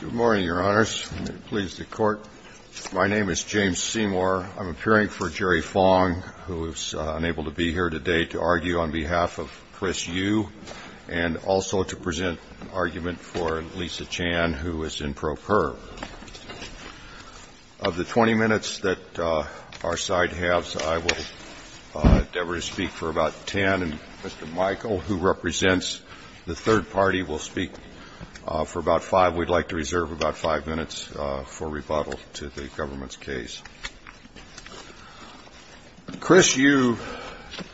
Good morning, Your Honors. May it please the Court, my name is James Seymour. I'm appearing for Jerry Fong, who is unable to be here today, to argue on behalf of Chris Yiu, and also to present an argument for Lisa Chan, who is in pro per. Of the 20 minutes that our side has, I will endeavor to speak for about 10, and Mr. Michael, who represents the third party, will speak for about 5. We'd like to reserve about 5 minutes for rebuttal to the government's case. Chris Yiu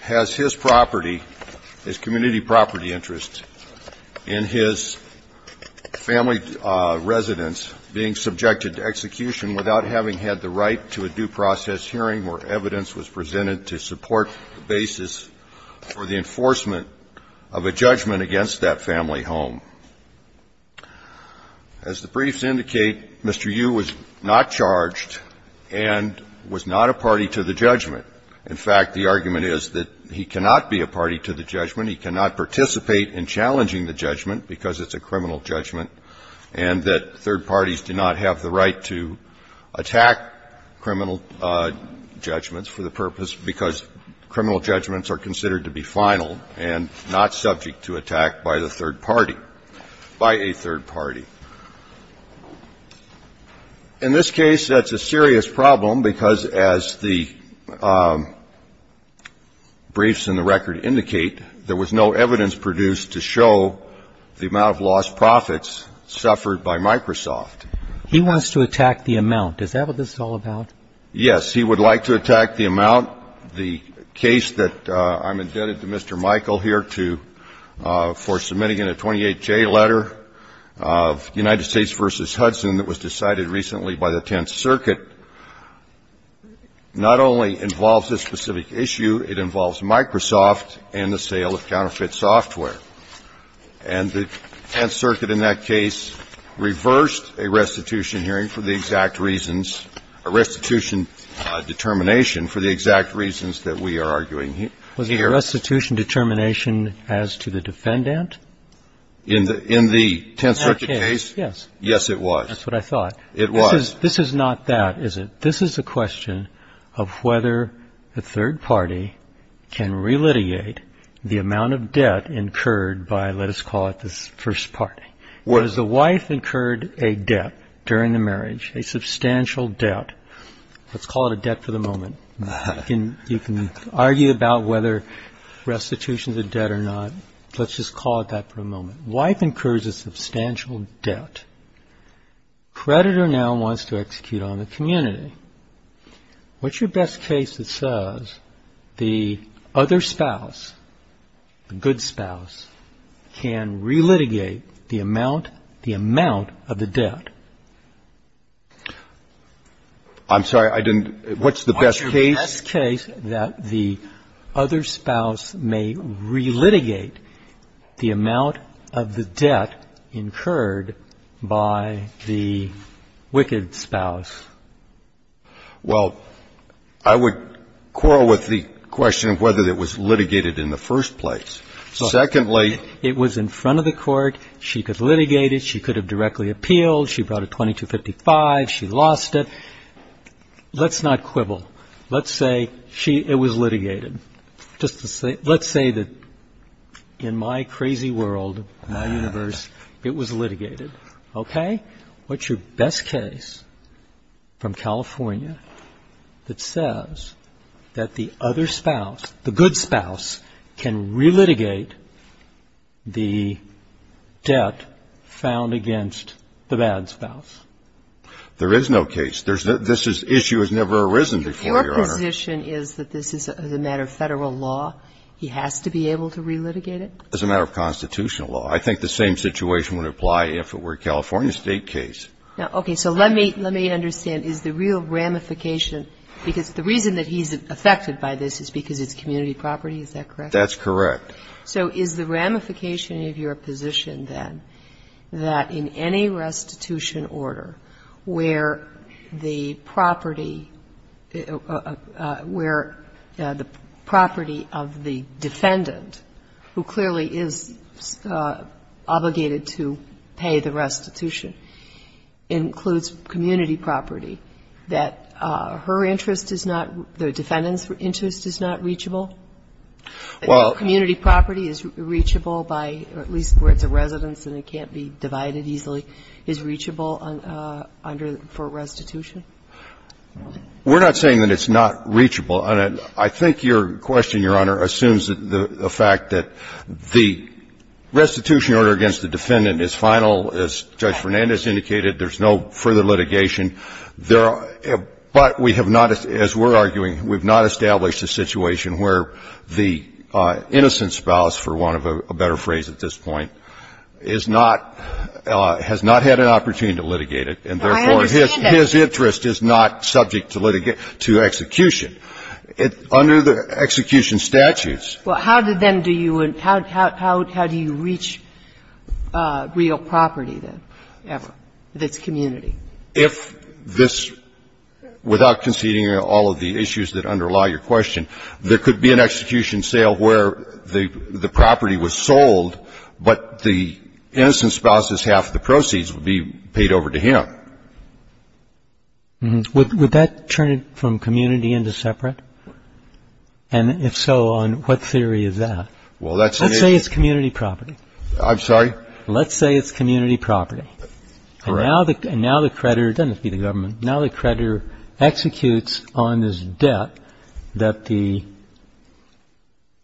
has his property, his community property interest, in his family residence being subjected to execution without having had the right to a due process hearing where evidence was presented to support the basis for the enforcement of a judgment against that family home. As the briefs indicate, Mr. Yiu was not charged and was not a party to the judgment. In fact, the argument is that he cannot be a party to the judgment, he cannot participate in challenging the judgment because it's a criminal judgment, and that third parties do not have the right to attack criminal judgments for the purpose, because criminal judgments are considered to be final and not subject to attack by the third party, by a third party. In this case, that's a serious problem because, as the briefs in the record indicate, there was no evidence produced to show the amount of lost profits suffered by Microsoft. He wants to attack the amount. Is that what this is all about? Yes. He would like to attack the amount. The case that I'm indebted to Mr. Michael here to for submitting in a 28-J letter of United States v. Hudson that was decided recently by the Tenth Circuit not only involves this specific issue, it involves Microsoft and the sale of counterfeit software. And the Tenth Circuit in that case reversed a restitution hearing for the exact reasons, a restitution determination for the exact reasons that we are arguing here. Was the restitution determination as to the defendant? In the Tenth Circuit case? Yes. Yes, it was. That's what I thought. It was. This is not that, is it? This is a question of whether the third party can re-litigate the amount of debt incurred by, let us call it, this first party. Was the wife incurred a debt during the marriage, a substantial debt? Let's call it a debt for the moment. You can argue about whether restitution is a debt or not. Let's just call it that for a moment. Wife incurs a substantial debt. Predator now wants to execute on the community. What's your best case that says the other spouse, the good spouse, can re-litigate the amount of the debt? I'm sorry, I didn't – what's the best case? What's your best case that the other spouse may re-litigate the amount of the debt incurred by the wicked spouse? Well, I would quarrel with the question of whether it was litigated in the first place. Secondly – It was in front of the court. She could litigate it. She could have directly appealed. She brought a 2255. She lost it. Let's not quibble. Let's say it was litigated. Let's say that in my crazy world, my universe, it was litigated, okay? What's your best case from California that says that the other spouse, the good spouse, can re-litigate the debt found against the bad spouse? There is no case. There's – this issue has never arisen before, Your Honor. Your position is that this is a matter of Federal law? He has to be able to re-litigate it? It's a matter of constitutional law. I think the same situation would apply if it were a California State case. Okay. So let me understand. Is the real ramification – because the reason that he's affected by this is because it's community property. Is that correct? That's correct. So is the ramification of your position, then, that in any restitution order where the property of the defendant, who clearly is obligated to pay the restitution, includes community property, that her interest is not – the defendant's interest is not reachable? Well – Community property is reachable by – or at least where it's a residence and it can't be divided easily is reachable under – for restitution? We're not saying that it's not reachable. I think your question, Your Honor, assumes the fact that the restitution order against the defendant is final. As Judge Fernandez indicated, there's no further litigation. There are – but we have not, as we're arguing, we've not established a situation where the innocent spouse, for want of a better phrase at this point, is not – has not had an opportunity to litigate it. And therefore, his interest is not reachable. His interest is not subject to litigation – to execution. Under the execution statutes – Well, how do then do you – how do you reach real property, then, ever, of its community? If this – without conceding all of the issues that underlie your question, there could be an execution sale where the property was sold, but the innocent spouse's half of the proceeds would be paid over to him. Would that turn it from community into separate? And if so, on what theory is that? Well, that's – Let's say it's community property. I'm sorry? Let's say it's community property. Correct. And now the creditor – doesn't have to be the government – now the creditor executes on this debt that the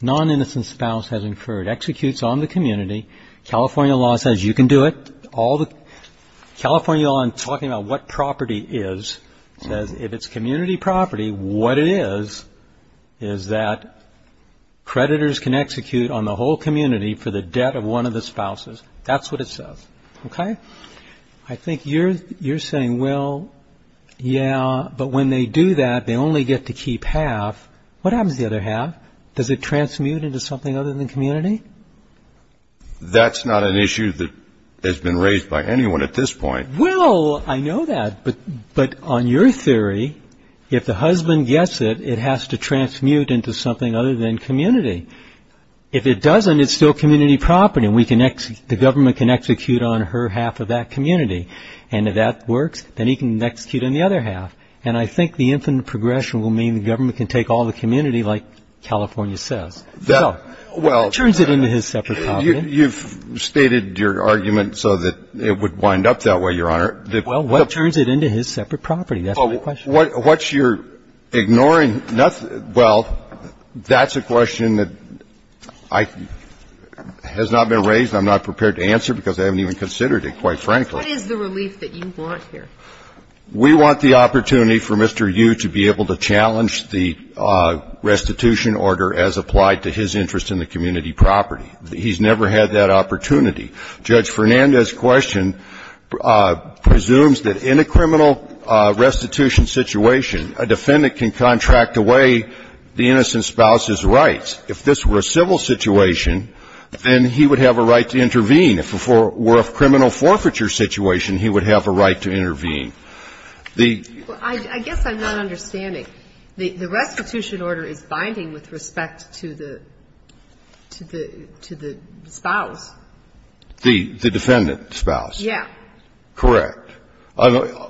non-innocent spouse has incurred. Executes on the community. California law says you can do it. All the – California law, in talking about what property is, says if it's community property, what it is, is that creditors can execute on the whole community for the debt of one of the spouses. That's what it says. Okay? I think you're – you're saying, well, yeah, but when they do that, they only get to keep half. What happens to the other half? Does it transmute into something other than community? That's not an issue that has been raised by anyone at this point. Well, I know that, but on your theory, if the husband gets it, it has to transmute into something other than community. If it doesn't, it's still community property. We can – the government can execute on her half of that community. And if that works, then he can execute on the other half. And I think the infinite progression will mean the government can take all the community, like California says. Well, what turns it into his separate property? You've stated your argument so that it would wind up that way, Your Honor. Well, what turns it into his separate property? That's my question. What's your ignoring – well, that's a question that I – has not been raised and I'm not prepared to answer because I haven't even considered it, quite frankly. What is the relief that you want here? We want the opportunity for Mr. Yu to be able to challenge the restitution order as applied to his interest in the community property. He's never had that opportunity. Judge Fernandez's question presumes that in a criminal restitution situation, a defendant can contract away the innocent spouse's rights. If this were a civil situation, then he would have a right to intervene. If it were a criminal forfeiture situation, he would have a right to intervene. The – Well, I guess I'm not understanding. The restitution order is binding with respect to the – to the spouse. The defendant's spouse. Yeah. Correct.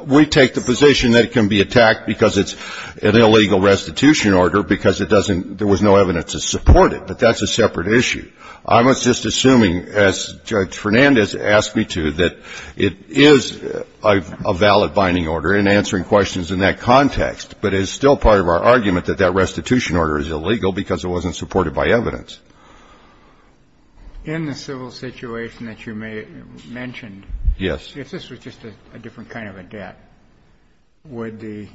We take the position that it can be attacked because it's an illegal restitution order because it doesn't – there was no evidence to support it, but that's a separate issue. I'm just assuming, as Judge Fernandez asked me to, that it is a valid binding order in answering questions in that context, but it is still part of our argument that that restitution order is illegal because it wasn't supported by evidence. In the civil situation that you may – mentioned, if this was just a different kind of a debt, would the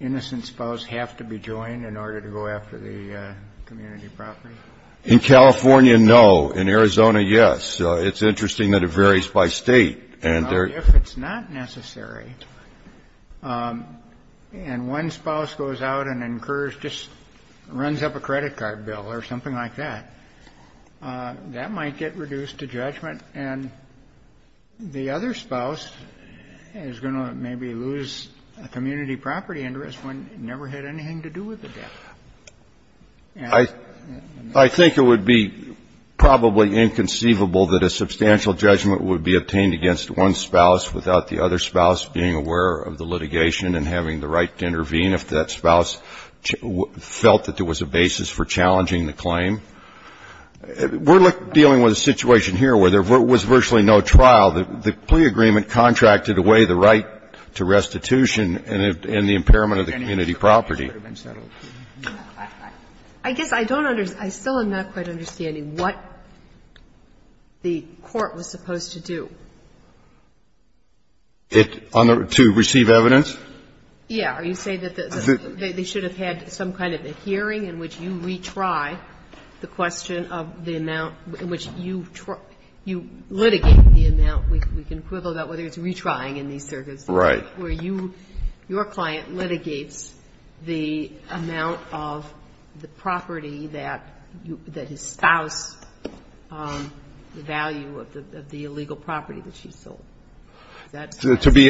innocent spouse have to be joined in order to go after the community property? In California, no. In Arizona, yes. It's interesting that it varies by state. And if it's not necessary, and one spouse goes out and incurs – just runs up a credit card bill or something like that, that might get reduced to judgment, and the other spouse is going to maybe lose a community property interest when it never had anything to do with the debt. I think it would be probably inconceivable that a substantial judgment would be made against one spouse without the other spouse being aware of the litigation and having the right to intervene if that spouse felt that there was a basis for challenging the claim. We're dealing with a situation here where there was virtually no trial. The plea agreement contracted away the right to restitution and the impairment of the community property. I guess I don't understand – I still am not quite understanding what the court was supposed to do. It – to receive evidence? Yeah. Are you saying that they should have had some kind of a hearing in which you retry the question of the amount in which you litigate the amount? We can quibble about whether it's retrying in these circumstances. Right. Where you – your client litigates the amount of the property that you – that his spouse – the value of the illegal property that she sold. Is that correct? To be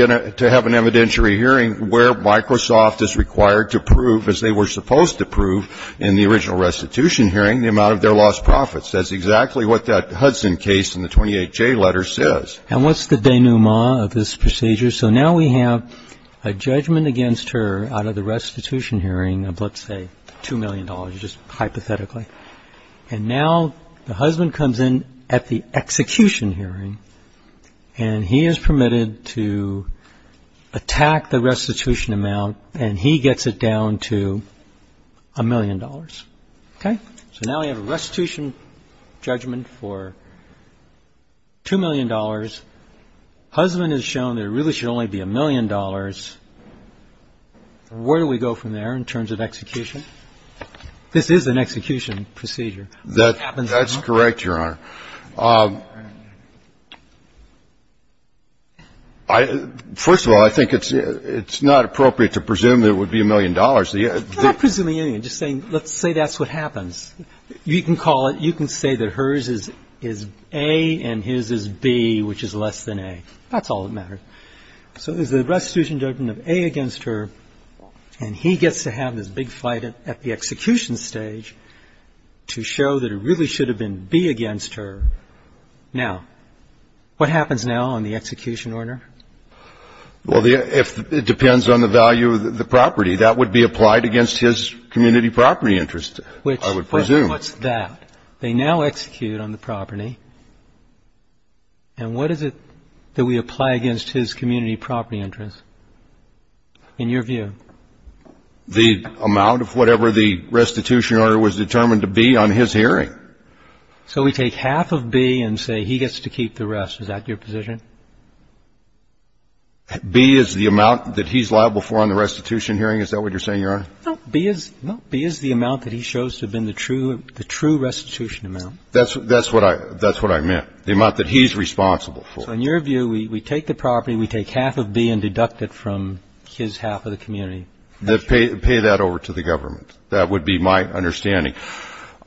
in a – to have an evidentiary hearing where Microsoft is required to prove, as they were supposed to prove in the original restitution hearing, the amount of their lost profits. That's exactly what that Hudson case in the 28J letter says. And what's the denouement of this procedure? So now we have a judgment against her out of the restitution hearing of, let's say, $2 million, just hypothetically. And now the husband comes in at the execution hearing, and he is permitted to attack the restitution amount, and he gets it down to $1 million, okay? So now we have a restitution judgment for $2 million. Husband has shown that it really should only be $1 million. Where do we go from there in terms of execution? This is an execution procedure. That's correct, Your Honor. First of all, I think it's not appropriate to presume there would be $1 million. I'm not presuming anything. I'm just saying let's say that's what happens. You can call it – you can say that hers is A and his is B, which is less than A. That's all that matters. So there's a restitution judgment of A against her, and he gets to have this big fight at the execution stage to show that it really should have been B against her. Now, what happens now on the execution order? Well, it depends on the value of the property. That would be applied against his community property interest, I would presume. What's that? They now execute on the property, and what is it that we apply against his community property interest, in your view? The amount of whatever the restitution order was determined to be on his hearing. So we take half of B and say he gets to keep the rest. Is that your position? B is the amount that he's liable for on the restitution hearing? Is that what you're saying, Your Honor? No. B is the amount that he shows to have been the true restitution amount. That's what I meant, the amount that he's responsible for. So in your view, we take the property, we take half of B and deduct it from his half of the community. Pay that over to the government. That would be my understanding.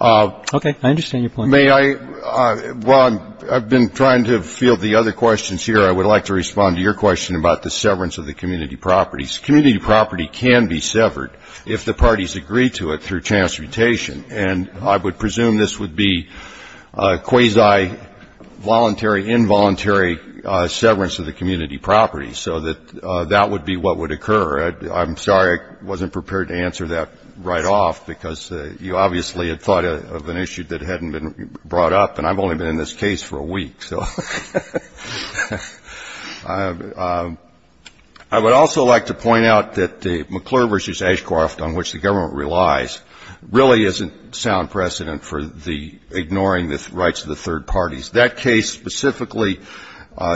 Okay. I understand your point. Well, I've been trying to field the other questions here. I would like to respond to your question about the severance of the community properties. Community property can be severed if the parties agree to it through transmutation, and I would presume this would be quasi-voluntary, involuntary severance of the community property so that that would be what would occur. I'm sorry I wasn't prepared to answer that right off because you obviously had thought of an issue that hadn't been brought up, and I've only been in this case for a week, so. I would also like to point out that the McClure v. Ashcroft on which the government relies really isn't sound precedent for the ignoring the rights of the third parties. That case specifically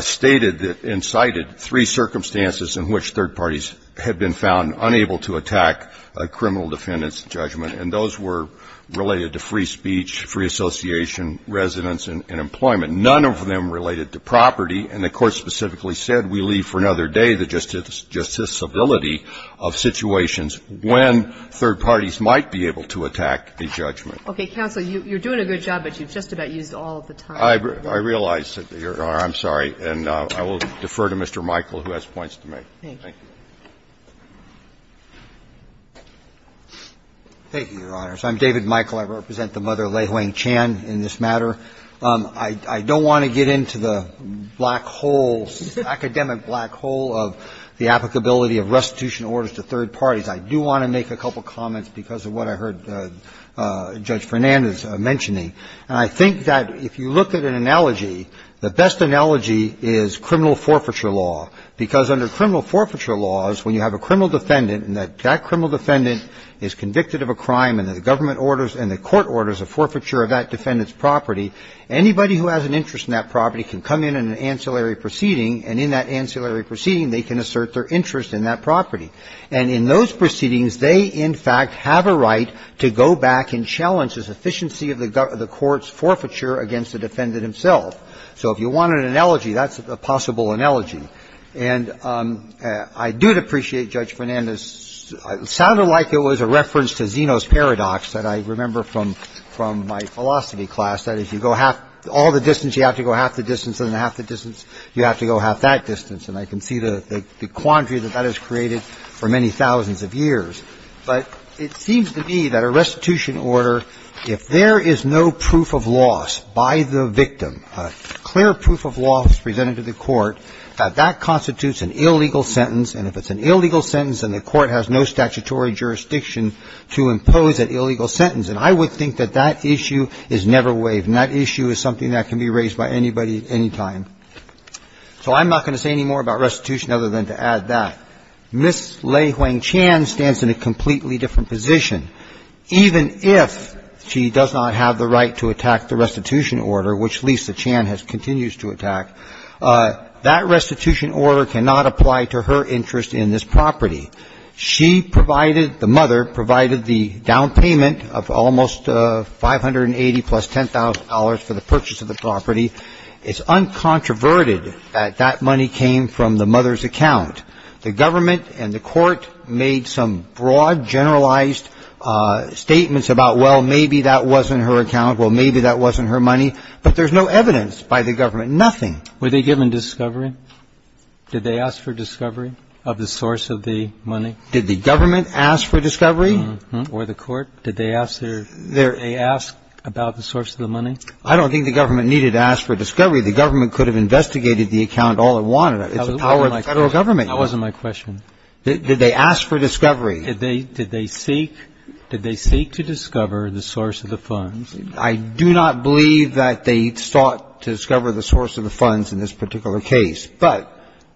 stated that and cited three circumstances in which third parties had been found unable to attack a criminal defendant's judgment, and those were related to free speech, free association, residence, and employment. None of them related to property, and the Court specifically said we leave for another day the justicability of situations when third parties might be able to attack a judgment. Okay. Counsel, you're doing a good job, but you've just about used all of the time. I realize that you're going to argue. I'm sorry, and I will defer to Mr. Michael, who has points to make. Thank you. Thank you, Your Honors. I'm David Michael. I represent the mother, Lei Huang Chan, in this matter. I don't want to get into the black holes, academic black hole of the applicability of restitution orders to third parties. I do want to make a couple comments because of what I heard Judge Fernandez mentioning, and I think that if you look at an analogy, the best analogy is criminal forfeiture law, because under criminal forfeiture laws, when you have a criminal defendant and that that criminal defendant is convicted of a crime and the government orders and the court orders a forfeiture of that defendant's property, anybody who has an interest in that property can come in on an ancillary proceeding, and in that ancillary proceeding, they can assert their interest in that property. And in those proceedings, they, in fact, have a right to go back and challenge the sufficiency of the court's forfeiture against the defendant himself. So if you want an analogy, that's a possible analogy. And I do appreciate Judge Fernandez's – it sounded like it was a reference to Zeno's paradox that I remember from my philosophy class, that if you go half – all the distance, you have to go half the distance, and half the distance, you have to go half that distance. And I can see the quandary that that has created for many thousands of years. But it seems to me that a restitution order, if there is no proof of loss by the victim a clear proof of loss presented to the court, that constitutes an illegal sentence. And if it's an illegal sentence, then the court has no statutory jurisdiction to impose that illegal sentence. And I would think that that issue is never waived, and that issue is something that can be raised by anybody at any time. So I'm not going to say any more about restitution other than to add that Ms. Lei Huang-Chan stands in a completely different position, even if she does not have the to attack. That restitution order cannot apply to her interest in this property. She provided – the mother provided the down payment of almost $580,000 plus $10,000 for the purchase of the property. It's uncontroverted that that money came from the mother's account. The government and the court made some broad, generalized statements about, well, maybe that wasn't her account, well, maybe that wasn't her money. But there's no evidence by the government, nothing. Were they given discovery? Did they ask for discovery of the source of the money? Did the government ask for discovery? Or the court? Did they ask about the source of the money? I don't think the government needed to ask for discovery. The government could have investigated the account all it wanted. It's the power of the federal government. That wasn't my question. Did they ask for discovery? Did they seek to discover the source of the funds? I do not believe that they sought to discover the source of the funds in this particular case. But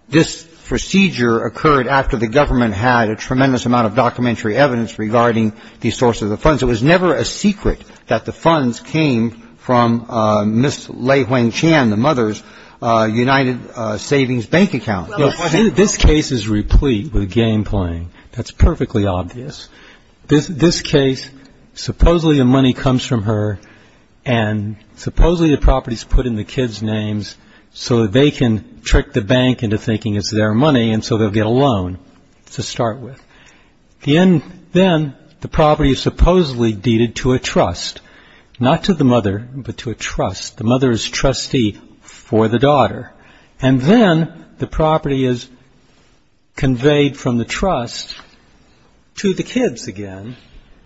this procedure occurred after the government had a tremendous amount of documentary evidence regarding the source of the funds. It was never a secret that the funds came from Ms. Lei-Huang Chan, the mother's United Savings Bank account. This case is replete with game playing. That's perfectly obvious. This case, supposedly the money comes from her and supposedly the property is put in the kids' names so that they can trick the bank into thinking it's their money and so they'll get a loan to start with. Then the property is supposedly deeded to a trust. Not to the mother, but to a trust. The mother is trustee for the daughter. And then the property is conveyed from the trust to the kids again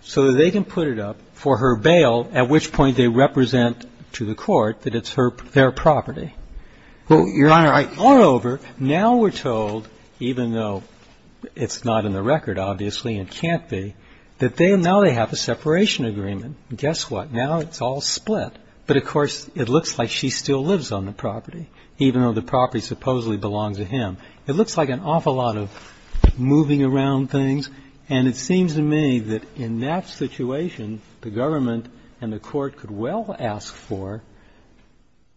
so that they can put it up for her bail, at which point they represent to the court that it's their property. Moreover, now we're told, even though it's not in the record, obviously, and can't be, that now they have a separation agreement. Guess what? Now it's all split. But, of course, it looks like she still lives on the property, even though the property supposedly belongs to him. It looks like an awful lot of moving around things. And it seems to me that in that situation, the government and the court could well ask for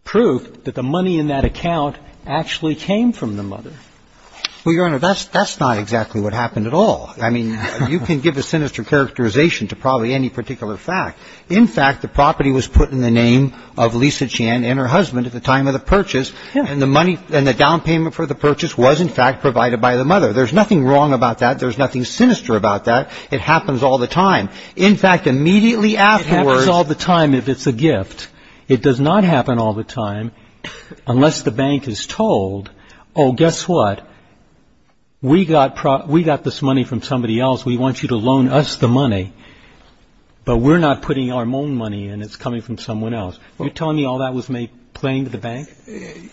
proof that the money in that account actually came from the mother. Well, Your Honor, that's not exactly what happened at all. I mean, you can give a sinister characterization to probably any particular fact. In fact, the property was put in the name of Lisa Chan and her husband at the time of the purchase, and the down payment for the purchase was, in fact, provided by the mother. There's nothing wrong about that. There's nothing sinister about that. It happens all the time. In fact, immediately afterwards... It happens all the time if it's a gift. It does not happen all the time unless the bank is told, oh, guess what? We got this money from somebody else. We want you to loan us the money. But we're not putting our own money in. It's coming from someone else. You're telling me all that was made plain to the bank?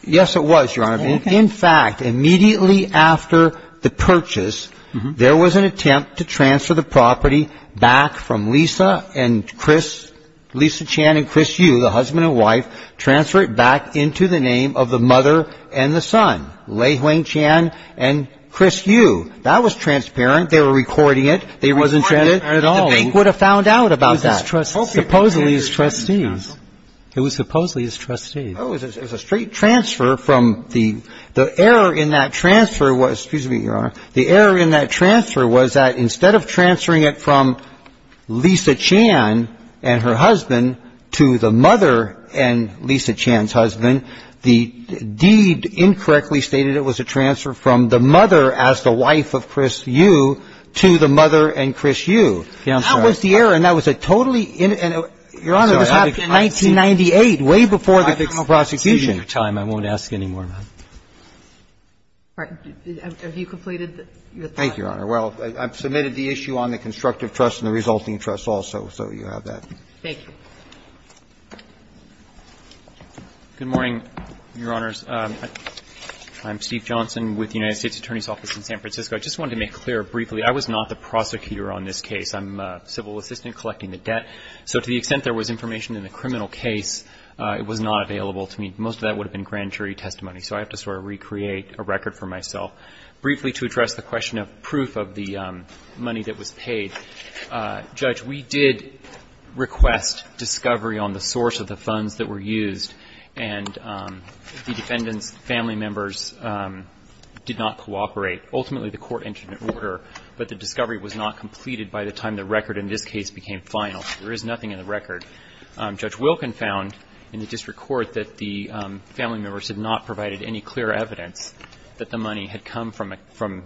Yes, it was, Your Honor. In fact, immediately after the purchase, there was an attempt to transfer the property back from Lisa and Chris, Lisa Chan and Chris Yu, the husband and wife, transfer it back into the name of the mother and the son, Lei-Huang Chan and Chris Yu. That was transparent. They were recording it. They weren't transparent at all. The bank would have found out about that. Supposedly as trustees. It was supposedly as trustees. Oh, it was a straight transfer from the — the error in that transfer was — excuse me, Your Honor. The error in that transfer was that instead of transferring it from Lisa Chan and her husband to the mother and Lisa Chan's husband, the deed incorrectly stated it was a transfer from the mother as the wife of Chris Yu to the mother and Chris Yu. That was the error, and that was a totally — and, Your Honor, this happened in 1998, way before the criminal prosecution. I won't ask any more, ma'am. All right. Have you completed your thought? Thank you, Your Honor. Well, I've submitted the issue on the constructive trust and the resulting trust also, so you have that. Thank you. Good morning, Your Honors. I'm Steve Johnson with the United States Attorney's Office in San Francisco. I just wanted to make clear briefly, I was not the prosecutor on this case. I'm a civil assistant collecting the debt. So to the extent there was information in the criminal case, it was not available to me. Most of that would have been grand jury testimony, so I have to sort of recreate a record for myself. Briefly, to address the question of proof of the money that was paid, Judge, we did request discovery on the source of the funds that were used, and the defendant's family members did not cooperate. Ultimately, the court entered an order, but the discovery was not completed by the time the record in this case became final. There is nothing in the record. Judge Wilkin found in the district court that the family members had not provided any clear evidence that the money had come from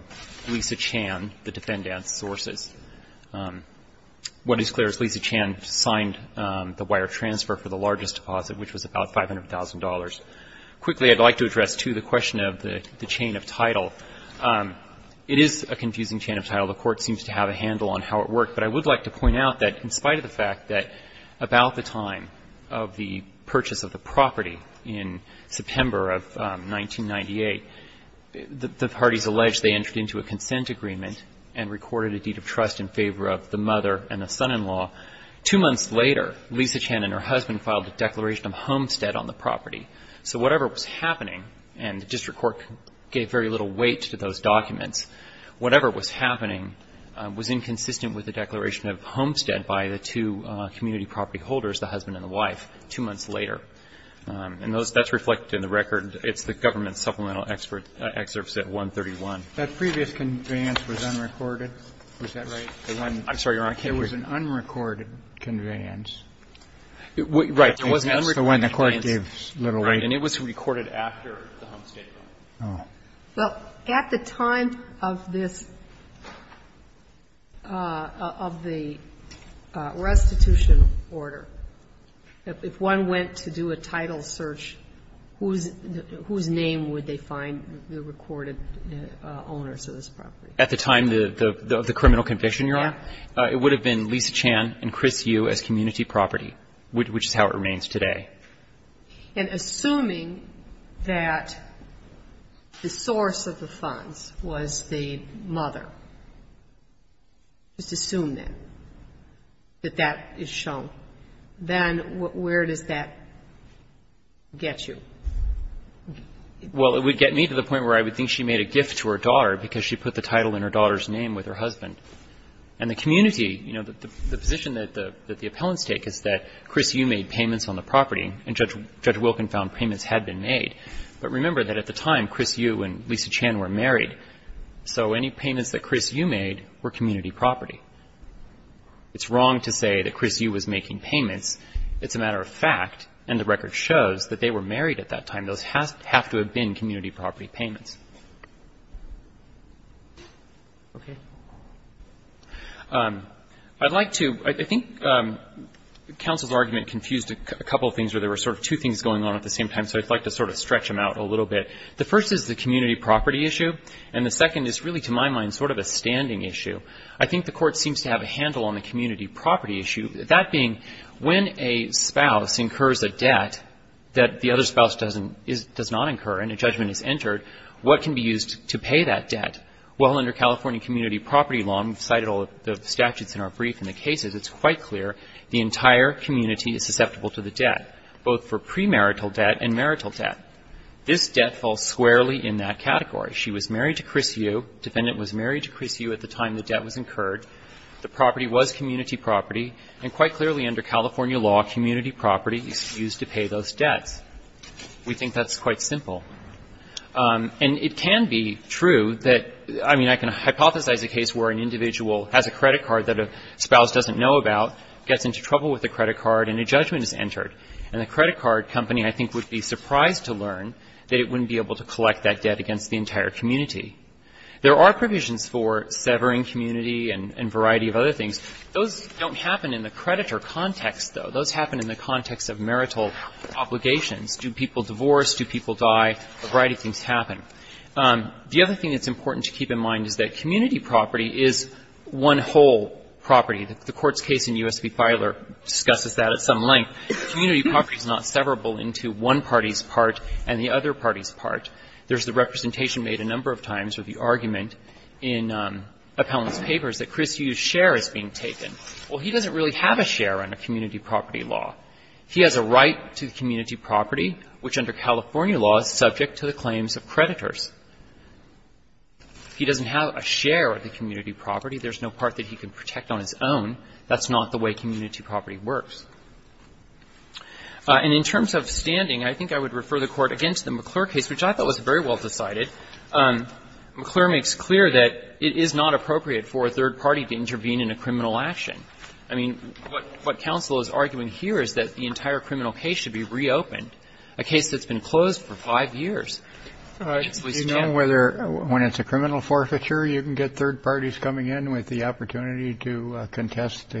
Lisa Chan, the defendant's sources. What is clear is Lisa Chan signed the wire transfer for the largest deposit, which was about $500,000. Quickly, I'd like to address, too, the question of the chain of title. It is a confusing chain of title. The court seems to have a handle on how it worked, but I would like to point out that in spite of the fact that about the time of the purchase of the property in September of 1998, the parties alleged they entered into a consent agreement and recorded a deed of trust in favor of the mother and the son-in-law. Two months later, Lisa Chan and her husband filed a declaration of homestead on the property. So whatever was happening, and the district court gave very little weight to those documents, whatever was happening was inconsistent with the declaration of homestead by the two community property holders, the husband and the wife, two months later. And that's reflected in the record. It's the government supplemental excerpts at 131. That previous conveyance was unrecorded. Is that right? I'm sorry, Your Honor, I can't hear you. It was an unrecorded conveyance. Right. It was an unrecorded conveyance. That's the one the court gave little weight to. Right. And it was recorded after the homestead. Oh. Well, at the time of this, of the restitution order, if one went to do a title search, whose name would they find the recorded owners of this property? At the time of the criminal conviction, Your Honor, it would have been Lisa Chan and Chris Yu as community property, which is how it remains today. And assuming that the source of the funds was the mother, just assume that, that that is shown. Then where does that get you? Well, it would get me to the point where I would think she made a gift to her daughter because she put the title in her daughter's name with her husband. And the community, you know, the position that the appellants take is that Chris Yu made payments on the property, and Judge Wilkin found payments had been made. But remember that at the time, Chris Yu and Lisa Chan were married. So any payments that Chris Yu made were community property. It's wrong to say that Chris Yu was making payments. It's a matter of fact, and the record shows, that they were married at that time. Those have to have been community property payments. Okay. I'd like to ‑‑ I think counsel's argument confused a couple of things where there were sort of two things going on at the same time, so I'd like to sort of stretch them out a little bit. The first is the community property issue, and the second is really, to my mind, sort of a standing issue. I think the Court seems to have a handle on the community property issue. That being, when a spouse incurs a debt that the other spouse doesn't ‑‑ does not incur and a judgment is entered, what can be used to pay that debt? Well, under California community property law, and we've cited all of the statutes in our brief and the cases, it's quite clear the entire community is susceptible to the debt, both for premarital debt and marital debt. This debt falls squarely in that category. She was married to Chris Yu. The defendant was married to Chris Yu at the time the debt was incurred. The property was community property. And quite clearly, under California law, community property is used to pay those debts. We think that's quite simple. And it can be true that ‑‑ I mean, I can hypothesize a case where an individual has a credit card that a spouse doesn't know about, gets into trouble with the credit card, and a judgment is entered. And the credit card company, I think, would be surprised to learn that it wouldn't be able to collect that debt against the entire community. There are provisions for severing community and variety of other things. Those don't happen in the creditor context, though. Those happen in the context of marital obligations. Do people divorce? Do people die? A variety of things happen. The other thing that's important to keep in mind is that community property is one whole property. The court's case in U.S. v. Fidler discusses that at some length. Community property is not severable into one party's part and the other party's There's the representation made a number of times with the argument in Appellant's papers that Chris Yu's share is being taken. Well, he doesn't really have a share under community property law. He has a right to community property, which under California law is subject to the claims of creditors. He doesn't have a share of the community property. There's no part that he can protect on his own. That's not the way community property works. And in terms of standing, I think I would refer the Court again to the McClure case, which I thought was very well decided. McClure makes clear that it is not appropriate for a third party to intervene in a criminal action. I mean, what counsel is arguing here is that the entire criminal case should be reopened, a case that's been closed for five years. Kennedy. Do you know whether when it's a criminal forfeiture, you can get third parties coming in with the opportunity to contest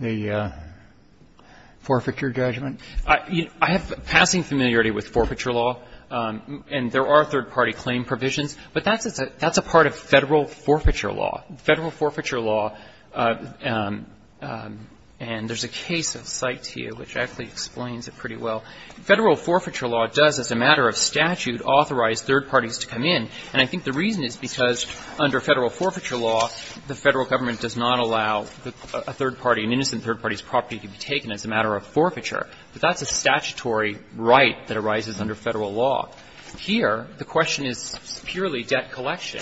the forfeiture judgment? I have passing familiarity with forfeiture law. And there are third party claim provisions. But that's a part of Federal forfeiture law. Federal forfeiture law, and there's a case of site here which actually explains it pretty well. Federal forfeiture law does, as a matter of statute, authorize third parties to come in. And I think the reason is because under Federal forfeiture law, the Federal Government does not allow a third party, an innocent third party's property to be taken as a matter of forfeiture. But that's a statutory right that arises under Federal law. Here, the question is purely debt collection.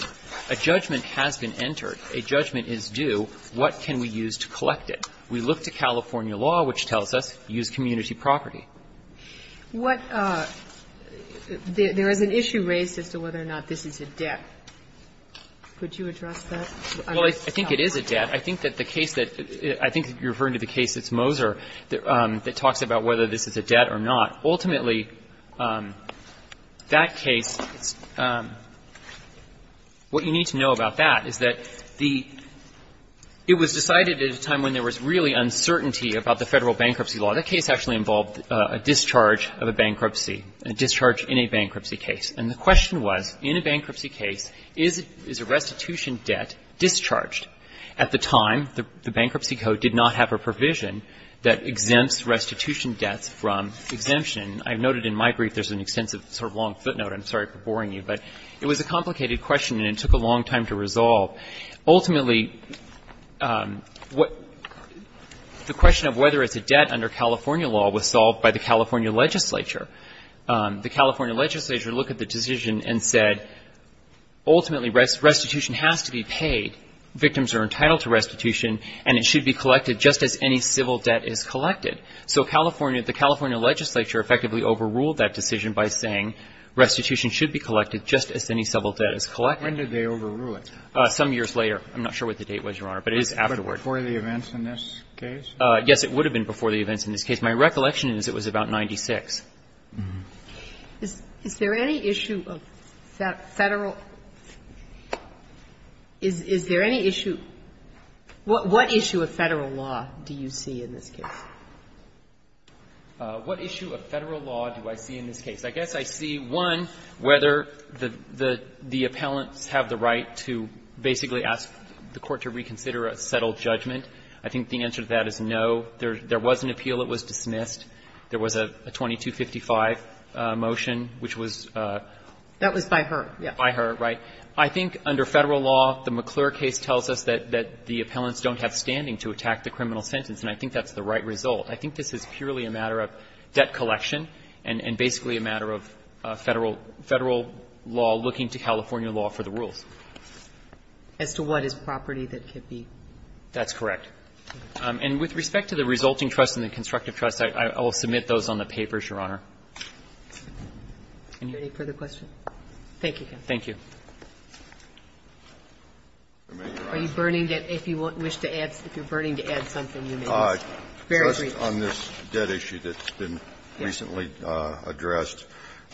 A judgment has been entered. A judgment is due. What can we use to collect it? We look to California law, which tells us, use community property. What – there is an issue raised as to whether or not this is a debt. Could you address that? Well, I think it is a debt. I think that the case that – I think you're referring to the case that's Moser that talks about whether this is a debt or not. Ultimately, that case, what you need to know about that is that the – it was decided at a time when there was really uncertainty about the Federal bankruptcy law. That case actually involved a discharge of a bankruptcy, a discharge in a bankruptcy case. And the question was, in a bankruptcy case, is a restitution debt discharged at the time? The bankruptcy code did not have a provision that exempts restitution debts from exemption. I noted in my brief there's an extensive sort of long footnote. I'm sorry for boring you. But it was a complicated question, and it took a long time to resolve. Ultimately, what – the question of whether it's a debt under California law was solved by the California legislature. The California legislature looked at the decision and said, ultimately, restitution has to be paid, victims are entitled to restitution, and it should be collected just as any civil debt is collected. So California – the California legislature effectively overruled that decision by saying restitution should be collected just as any civil debt is collected. Kennedy, when did they overrule it? Some years later. I'm not sure what the date was, Your Honor, but it is afterward. Before the events in this case? Yes, it would have been before the events in this case. My recollection is it was about 96. Is there any issue of Federal – is there any issue – what issue of Federal law do you see in this case? What issue of Federal law do I see in this case? I guess I see, one, whether the appellants have the right to basically ask the court to reconsider a settled judgment. I think the answer to that is no. There was an appeal that was dismissed. There was a 2255 motion, which was – That was by her. By her, right. I think under Federal law, the McClure case tells us that the appellants don't have standing to attack the criminal sentence, and I think that's the right result. I think this is purely a matter of debt collection and basically a matter of Federal law looking to California law for the rules. As to what is property that could be? That's correct. And with respect to the resulting trust and the constructive trust, I will submit those on the papers, Your Honor. Any further questions? Thank you, counsel. Thank you. Are you burning debt? If you wish to add – if you're burning to add something, you may. Very briefly. Just on this debt issue that's been recently addressed,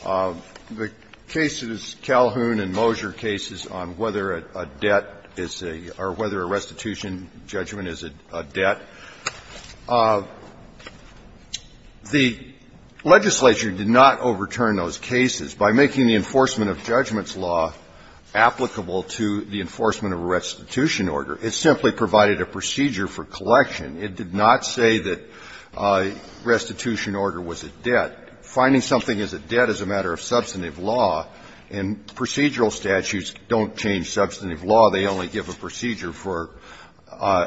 the cases, Calhoun and Moser cases on whether a debt is a – or whether a restitution judgment is a debt, the legislature did not overturn those cases by making the enforcement of judgments law applicable to the enforcement of a restitution order. It simply provided a procedure for collection. It did not say that a restitution order was a debt. Finding something is a debt is a matter of substantive law, and procedural statutes don't change substantive law. They only give a procedure for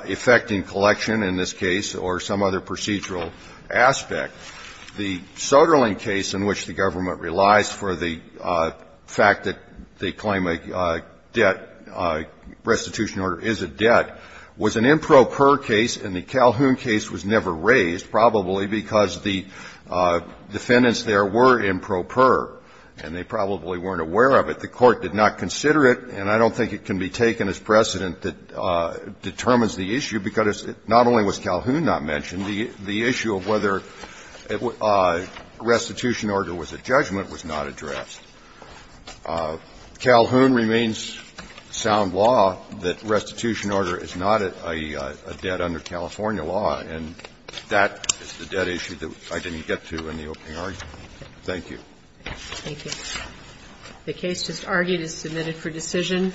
effecting collection in this case or some other procedural aspect. The Soderling case in which the government relies for the fact that they claim a debt restitution order is a debt was an improper case, and the Calhoun case was never raised, probably because the defendants there were improper, and they probably weren't aware of it. The Court did not consider it, and I don't think it can be taken as precedent that determines the issue, because not only was Calhoun not mentioned, the issue of whether a restitution order was a judgment was not addressed. Calhoun remains sound law that restitution order is not a debt under California law, and that is the debt issue that I didn't get to in the opening argument. Thank you. Thank you. The case just argued is submitted for decision.